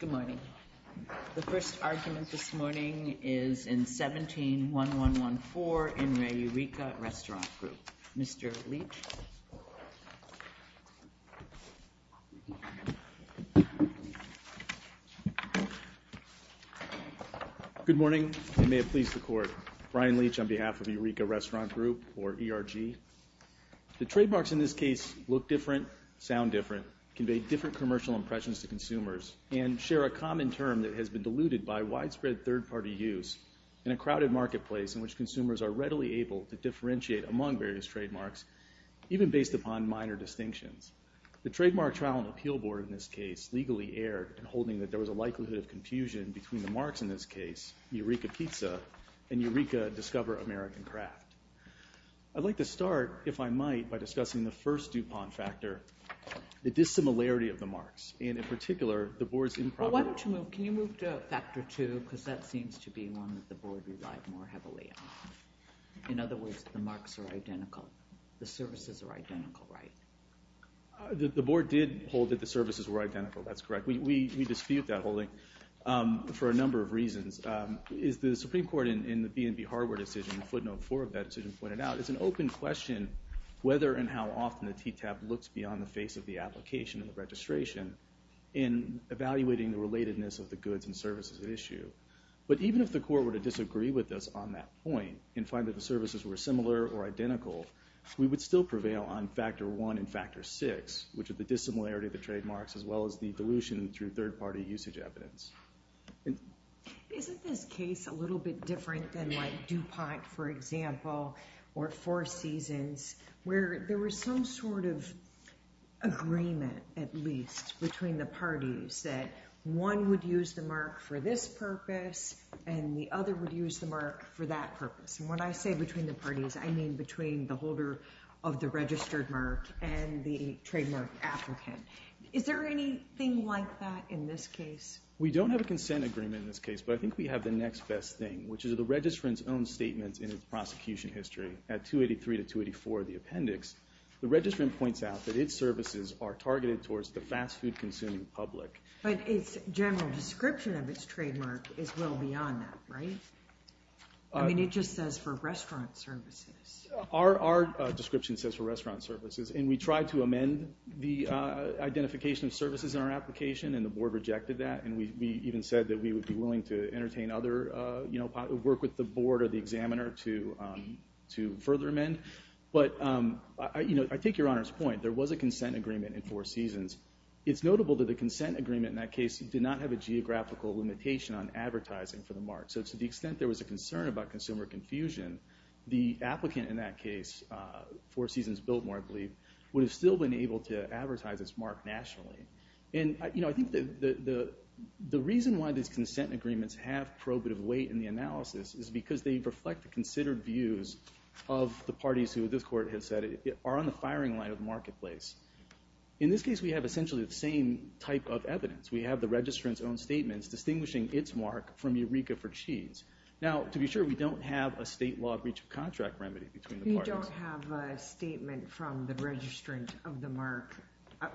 Good morning. The first argument this morning is in 17-1114 in Re Eureka Restaurant Group. Mr. Leach. Good morning, and may it please the Court. Brian Leach on behalf of Eureka Restaurant Group, or ERG. The trademarks in this case look different, sound different, convey different commercial impressions to consumers, and share a common term that has been diluted by widespread third-party use in a crowded marketplace in which consumers are readily able to differentiate among various trademarks, even based upon minor distinctions. The trademark trial and appeal board in this case legally erred in holding that there was a likelihood of confusion between the marks in this case, Eureka Pizza, and Eureka Discover American Craft. I'd like to start, if I might, by discussing the first DuPont factor, the dissimilarity of the marks. And in particular, the board's improper... Why don't you move, can you move to factor two, because that seems to be one that the board relied more heavily on. In other words, the marks are identical. The services are identical, right? The board did hold that the services were identical, that's correct. We dispute that holding for a number of reasons. As the Supreme Court in the B&B hardware decision, footnote four of that decision pointed out, it's an open question whether and how often the TTAP looks beyond the face of the application and the registration in evaluating the relatedness of the goods and services at issue. But even if the Court were to disagree with us on that point, and find that the services were similar or identical, we would still prevail on factor one and factor six, which are the dissimilarity of the trademarks, as well as the dilution through third-party usage evidence. Isn't this case a little bit different than, like, DuPont, for example, or Four Seasons, where there was some sort of agreement, at least, between the parties, that one would use the mark for this purpose, and the other would use the mark for that purpose. And when I say between the parties, I mean between the holder of the registered mark and the trademark applicant. Is there anything like that in this case? We don't have a consent agreement in this case, but I think we have the next best thing, which is the registrant's own statement in its prosecution history at 283 to 284 of the appendix. The registrant points out that its services are targeted towards the fast-food-consuming public. But its general description of its trademark is well beyond that, right? I mean, it just says for restaurant services. Our description says for restaurant services, and we tried to amend the identification of services in our application, and the board rejected that. And we even said that we would be willing to work with the board or the examiner to further amend. But I take Your Honor's point. There was a consent agreement in Four Seasons. It's notable that the consent agreement in that case did not have a geographical limitation on advertising for the mark. So to the extent there was a concern about consumer confusion, the applicant in that case, Four Seasons-Biltmore, I believe, would have still been able to advertise its mark nationally. And, you know, I think the reason why these consent agreements have probative weight in the analysis is because they reflect the considered views of the parties who this Court has said are on the firing line of the marketplace. In this case, we have essentially the same type of evidence. We have the registrant's own statements distinguishing its mark from Eureka for Cheese. Now, to be sure, we don't have a state law breach of contract remedy between the parties. You don't have a statement from the registrant of the mark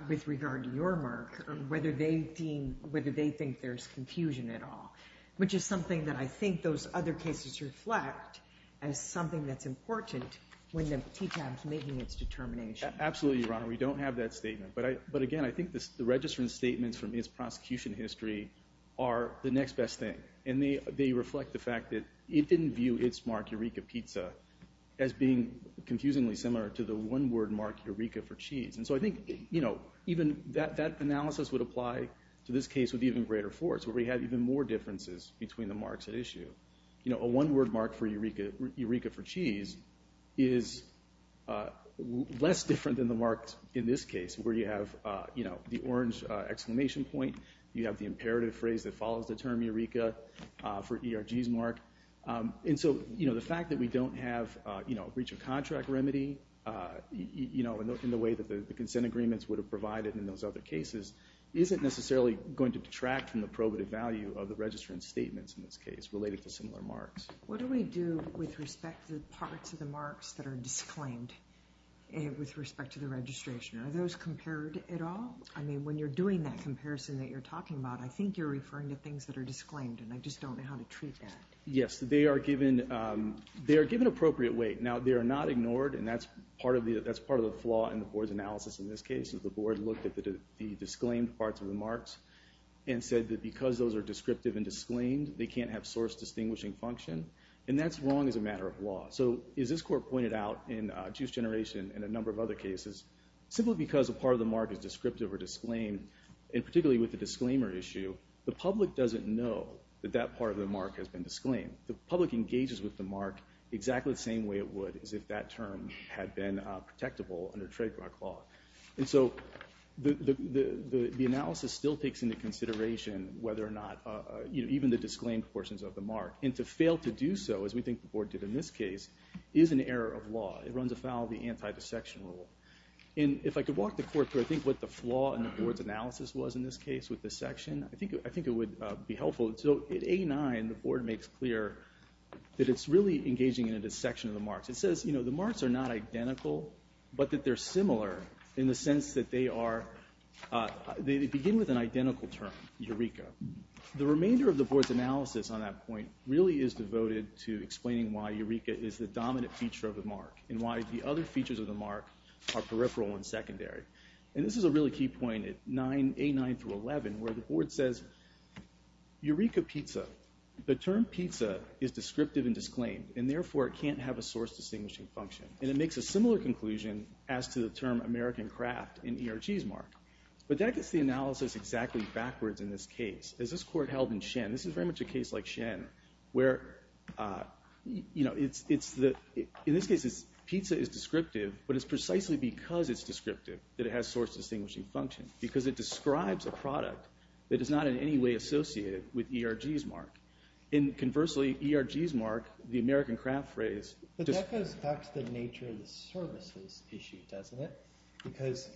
with regard to your mark, whether they think there's confusion at all, which is something that I think those other cases reflect as something that's important when the TTAB is making its determination. Absolutely, Your Honor. We don't have that statement. But, again, I think the registrant's statements from its prosecution history are the next best thing. And they reflect the fact that it didn't view its mark, Eureka Pizza, as being confusingly similar to the one-word mark, Eureka for Cheese. And so I think, you know, even that analysis would apply to this case with even greater force where we have even more differences between the marks at issue. You know, a one-word mark for Eureka for Cheese is less different than the marks in this case, where you have, you know, the orange exclamation point. You have the imperative phrase that follows the term Eureka for ERG's mark. And so, you know, the fact that we don't have, you know, a breach of contract remedy, you know, in the way that the consent agreements would have provided in those other cases, isn't necessarily going to detract from the probative value of the registrant's statements in this case related to similar marks. What do we do with respect to the parts of the marks that are disclaimed with respect to the registration? Are those compared at all? I mean, when you're doing that comparison that you're talking about, I think you're referring to things that are disclaimed, and I just don't know how to treat that. Yes, they are given appropriate weight. Now, they are not ignored, and that's part of the flaw in the board's analysis in this case, is the board looked at the disclaimed parts of the marks and said that because those are descriptive and disclaimed, they can't have source distinguishing function. And that's wrong as a matter of law. So as this court pointed out in Juice Generation and a number of other cases, simply because a part of the mark is descriptive or disclaimed, and particularly with the disclaimer issue, the public doesn't know that that part of the mark has been disclaimed. The public engages with the mark exactly the same way it would as if that term had been protectable under trademark law. And so the analysis still takes into consideration whether or not even the disclaimed portions of the mark. And to fail to do so, as we think the board did in this case, is an error of law. It runs afoul of the anti-dissection rule. And if I could walk the court through, I think, what the flaw in the board's analysis was in this case with this section, I think it would be helpful. So in A9, the board makes clear that it's really engaging in a dissection of the marks. It says, you know, the marks are not identical, but that they're similar in the sense that they begin with an identical term, Eureka. The remainder of the board's analysis on that point really is devoted to explaining why Eureka is the dominant feature of the mark and why the other features of the mark are peripheral and secondary. And this is a really key point at A9 through 11, where the board says, Eureka Pizza. The term pizza is descriptive and disclaimed. And therefore, it can't have a source distinguishing function. And it makes a similar conclusion as to the term American craft in ERG's mark. But that gets the analysis exactly backwards in this case. As this court held in Shen, this is very much a case like Shen, where, you know, in this case, pizza is descriptive, but it's precisely because it's descriptive that it has source distinguishing function, because it describes a product that is not in any way associated with ERG's mark. And conversely, ERG's mark, the American craft phrase— But that goes back to the nature of the services issue, doesn't it? Because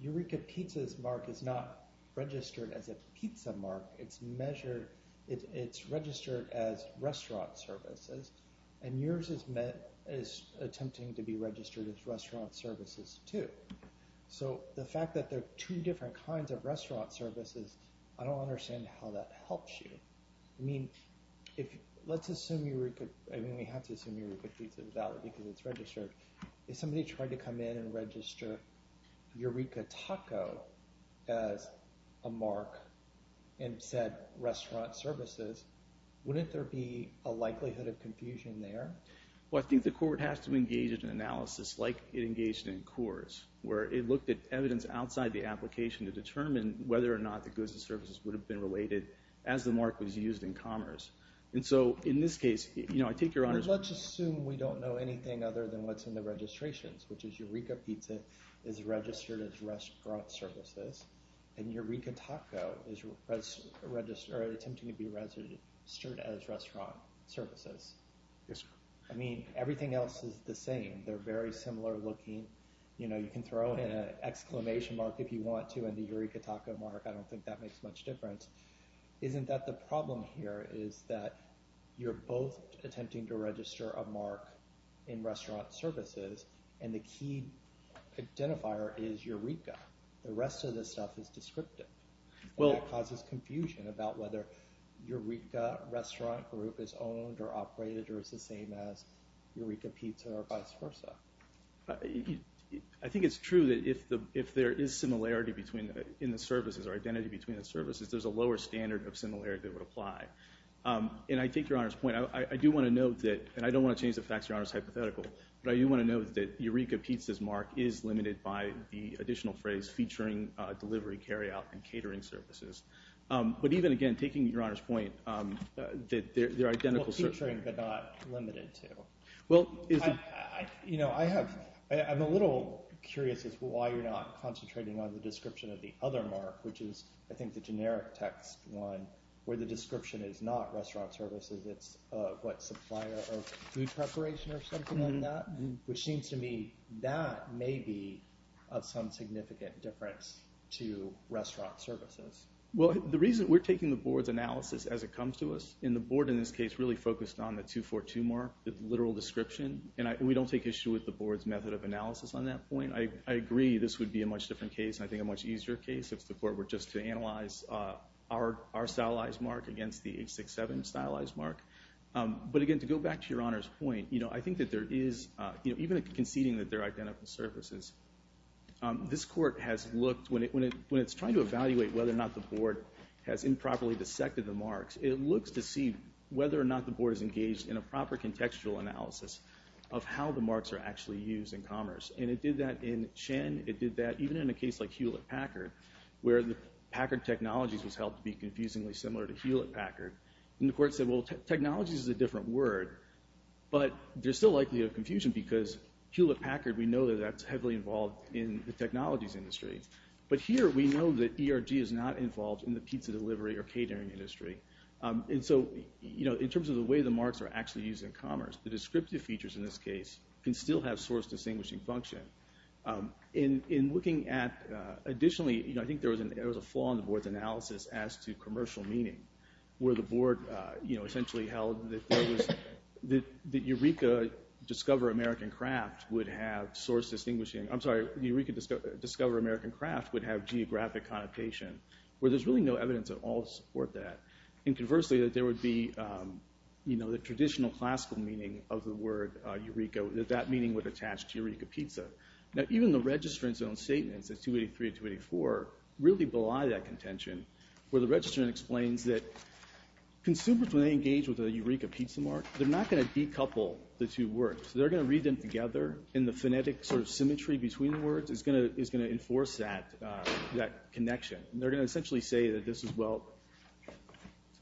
Eureka Pizza's mark is not registered as a pizza mark. It's measured—it's registered as restaurant services. And yours is attempting to be registered as restaurant services, too. So the fact that there are two different kinds of restaurant services, I don't understand how that helps you. I mean, let's assume Eureka—I mean, we have to assume Eureka Pizza is valid because it's registered. If somebody tried to come in and register Eureka Taco as a mark and said restaurant services, wouldn't there be a likelihood of confusion there? Well, I think the court has to engage in an analysis like it engaged in Coors, where it looked at evidence outside the application to determine whether or not the goods and services would have been related as the mark was used in commerce. And so in this case, you know, I take your honors— Let's assume we don't know anything other than what's in the registrations, which is Eureka Pizza is registered as restaurant services, and Eureka Taco is attempting to be registered as restaurant services. Yes, sir. I mean, everything else is the same. They're very similar looking. You know, you can throw in an exclamation mark if you want to and the Eureka Taco mark. I don't think that makes much difference. Isn't that the problem here is that you're both attempting to register a mark in restaurant services, and the key identifier is Eureka. The rest of this stuff is descriptive. Well— It causes confusion about whether Eureka restaurant group is owned or operated or is the same as Eureka Pizza or vice versa. I think it's true that if there is similarity in the services or identity between the services, there's a lower standard of similarity that would apply. And I take your honors' point. I do want to note that—and I don't want to change the facts of your honors' hypothetical, but I do want to note that Eureka Pizza's mark is limited by the additional phrase featuring delivery, carryout, and catering services. But even again, taking your honors' point, they're identical— Well, featuring but not limited to. Well, is— You know, I have—I'm a little curious as to why you're not concentrating on the description of the other mark, which is, I think, the generic text one where the description is not restaurant services. It's what, supplier of food preparation or something like that, which seems to me that may be of some significant difference to restaurant services. Well, the reason—we're taking the board's analysis as it comes to us, and the board in this case really focused on the 242 mark, the literal description, and we don't take issue with the board's method of analysis on that point. I agree this would be a much different case and I think a much easier case. If the court were just to analyze our stylized mark against the 867 stylized mark. But again, to go back to your honors' point, you know, I think that there is— even conceding that they're identical surfaces, this court has looked— when it's trying to evaluate whether or not the board has improperly dissected the marks, it looks to see whether or not the board is engaged in a proper contextual analysis of how the marks are actually used in commerce. And it did that in Chen. It did that even in a case like Hewlett-Packard, where the Packard technologies was helped to be confusingly similar to Hewlett-Packard. And the court said, well, technologies is a different word, but there's still likely a confusion because Hewlett-Packard, we know that that's heavily involved in the technologies industry. But here we know that ERG is not involved in the pizza delivery or catering industry. And so, you know, in terms of the way the marks are actually used in commerce, the descriptive features in this case can still have source distinguishing function. In looking at—additionally, you know, I think there was a flaw in the board's analysis as to commercial meaning, where the board, you know, essentially held that Eureka Discover American Craft would have source distinguishing— I'm sorry, Eureka Discover American Craft would have geographic connotation, where there's really no evidence at all to support that. And conversely, that there would be, you know, the traditional classical meaning of the word Eureka, that that meaning would attach to Eureka pizza. Now, even the registrant's own statements in 283 and 284 really belie that contention, where the registrant explains that consumers, when they engage with a Eureka pizza mark, they're not going to decouple the two words. They're going to read them together, and the phonetic sort of symmetry between the words is going to enforce that connection. And they're going to essentially say that this is, well—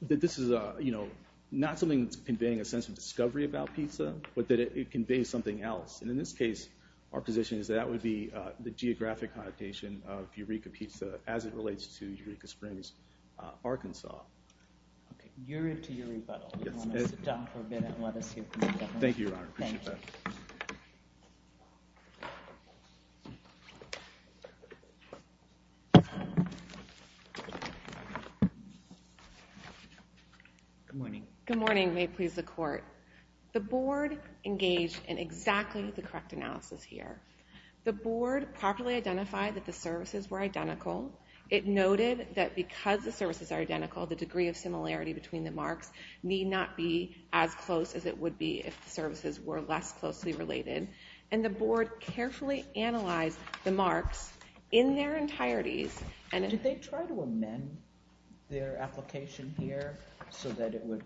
that this is, you know, not something that's conveying a sense of discovery about pizza, but that it conveys something else. And in this case, our position is that that would be the geographic connotation of Eureka pizza as it relates to Eureka Springs, Arkansas. Okay. You're into your rebuttal. You want to sit down for a bit and let us hear from you. Thank you, Your Honor. Appreciate that. Good morning. May it please the Court. The Board engaged in exactly the correct analysis here. The Board properly identified that the services were identical. It noted that because the services are identical, the degree of similarity between the marks need not be as close as it would be if the services were less closely related. And the Board carefully analyzed the marks in their entireties. Did they try to amend their application here so that it would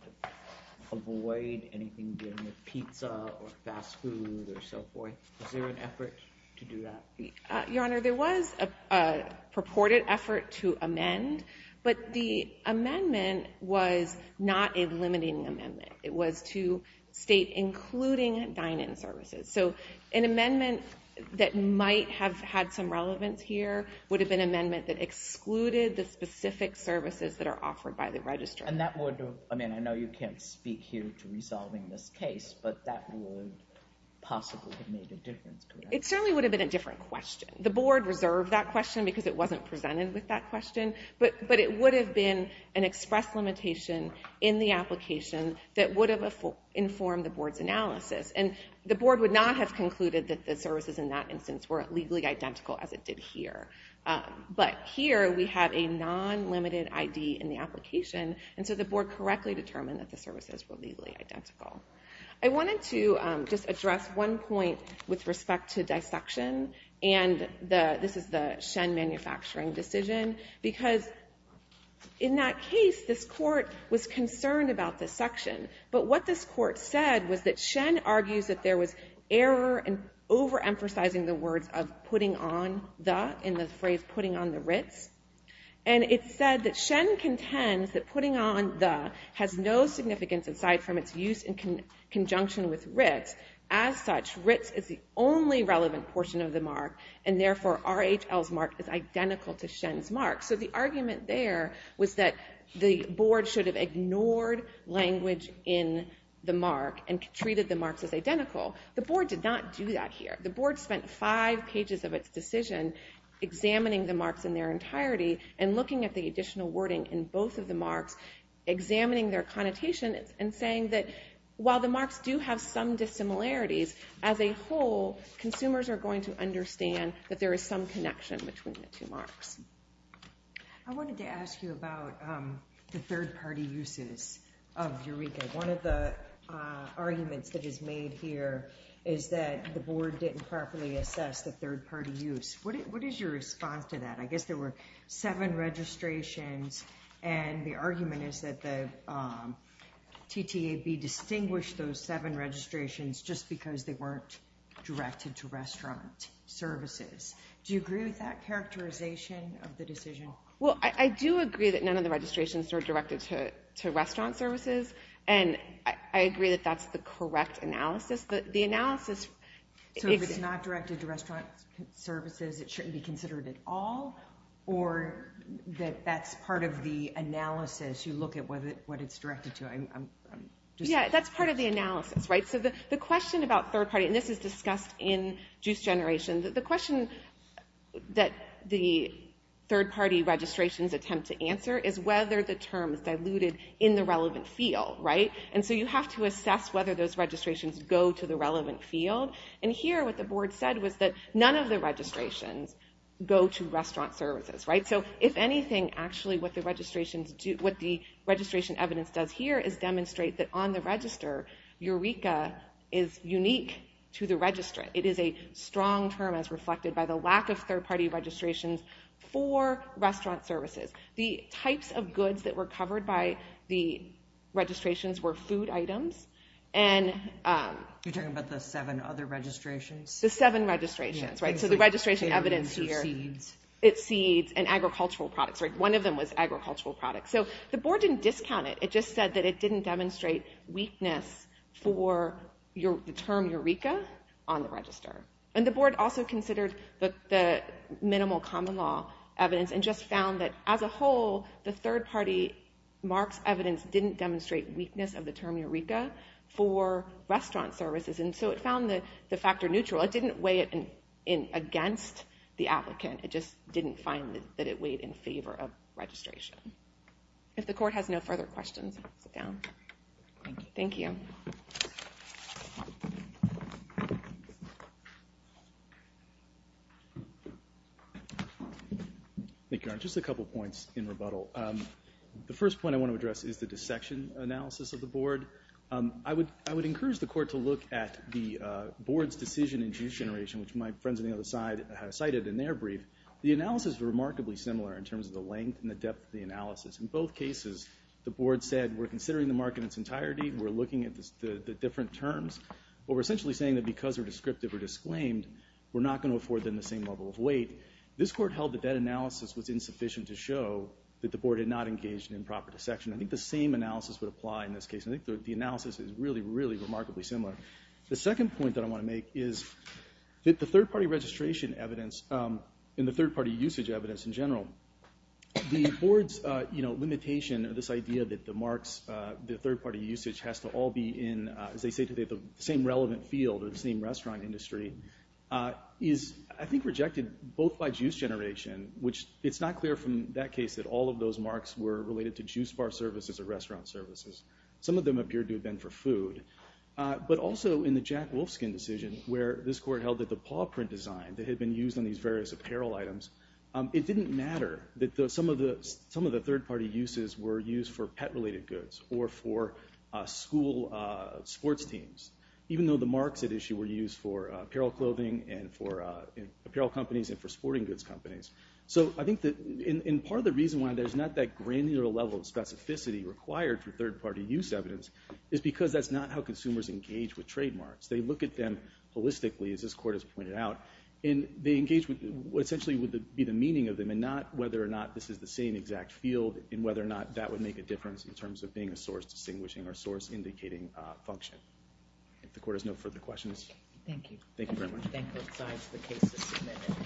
avoid anything dealing with pizza or fast food or so forth? Was there an effort to do that? Your Honor, there was a purported effort to amend, but the amendment was not a limiting amendment. It was to state including dine-in services. So an amendment that might have had some relevance here would have been an amendment that excluded the specific services that are offered by the registrar. And that would, I mean, I know you can't speak here to resolving this case, but that would possibly have made a difference, correct? It certainly would have been a different question. The Board reserved that question because it wasn't presented with that question, but it would have been an express limitation in the application that would have informed the Board's analysis. And the Board would not have concluded that the services in that instance were legally identical as it did here. But here we have a non-limited ID in the application, and so the Board correctly determined that the services were legally identical. I wanted to just address one point with respect to dissection, and this is the Shen Manufacturing decision, because in that case this Court was concerned about dissection. But what this Court said was that Shen argues that there was error in overemphasizing the words of putting on the, in the phrase putting on the Ritz. And it said that Shen contends that putting on the has no significance aside from its use in conjunction with Ritz. As such, Ritz is the only relevant portion of the mark, and therefore RHL's mark is identical to Shen's mark. So the argument there was that the Board should have ignored language in the mark and treated the marks as identical. The Board did not do that here. The Board spent five pages of its decision examining the marks in their entirety and looking at the additional wording in both of the marks, examining their connotations, and saying that while the marks do have some dissimilarities, as a whole, consumers are going to understand that there is some connection between the two marks. I wanted to ask you about the third-party uses of Eureka. One of the arguments that is made here is that the Board didn't properly assess the third-party use. What is your response to that? I guess there were seven registrations, and the argument is that the TTAB distinguished those seven registrations just because they weren't directed to restaurant services. Do you agree with that characterization of the decision? Well, I do agree that none of the registrations are directed to restaurant services, and I agree that that's the correct analysis. The analysis... So if it's not directed to restaurant services, it shouldn't be considered at all, or that that's part of the analysis, you look at what it's directed to? Yeah, that's part of the analysis, right? So the question about third-party, and this is discussed in Juice Generation, the question that the third-party registrations attempt to answer is whether the term is diluted in the relevant field, right? And so you have to assess whether those registrations go to the relevant field, and here what the Board said was that none of the registrations go to restaurant services, right? So if anything, actually what the registration evidence does here is demonstrate that on the register, Eureka is unique to the register. It is a strong term as reflected by the lack of third-party registrations for restaurant services. The types of goods that were covered by the registrations were food items and... You're talking about the seven other registrations? The seven registrations, right? So the registration evidence here... It's seeds. It's seeds and agricultural products, right? One of them was agricultural products. So the Board didn't discount it. It just said that it didn't demonstrate weakness for the term Eureka on the register. And the Board also considered the minimal common law evidence and just found that as a whole, the third-party marks evidence didn't demonstrate weakness of the term Eureka for restaurant services, and so it found the factor neutral. It didn't weigh it against the applicant. It just didn't find that it weighed in favor of registration. If the Court has no further questions, sit down. Thank you. Thank you, Your Honor. Just a couple points in rebuttal. The first point I want to address is the dissection analysis of the Board. I would encourage the Court to look at the Board's decision in juice generation, which my friends on the other side cited in their brief. The analysis is remarkably similar in terms of the length and the depth of the analysis. In both cases, the Board said we're considering the mark in its entirety, we're looking at the different terms, but we're essentially saying that because they're descriptive or disclaimed, we're not going to afford them the same level of weight. This Court held that that analysis was insufficient to show that the Board had not engaged in improper dissection. I think the same analysis would apply in this case. I think the analysis is really, really remarkably similar. The second point that I want to make is that the third-party registration evidence and the third-party usage evidence in general, the Board's limitation of this idea that the marks, the third-party usage, has to all be in, as they say today, the same relevant field or the same restaurant industry, is I think rejected both by juice generation, which it's not clear from that case that all of those marks were related to juice bar services or restaurant services. Some of them appeared to have been for food. But also in the Jack Wolfskin decision, where this Court held that the paw print design that had been used on these various apparel items, it didn't matter that some of the third-party uses were used for pet-related goods or for school sports teams, even though the marks at issue were used for apparel clothing and for apparel companies and for sporting goods companies. So I think that part of the reason why there's not that granular level of specificity required for third-party use evidence is because that's not how consumers engage with trademarks. They look at them holistically, as this Court has pointed out, and they engage with what essentially would be the meaning of them and not whether or not this is the same exact field and whether or not that would make a difference in terms of being a source-distinguishing or source-indicating function. If the Court has no further questions. Thank you. Thank you very much. Thank both sides. The case is submitted.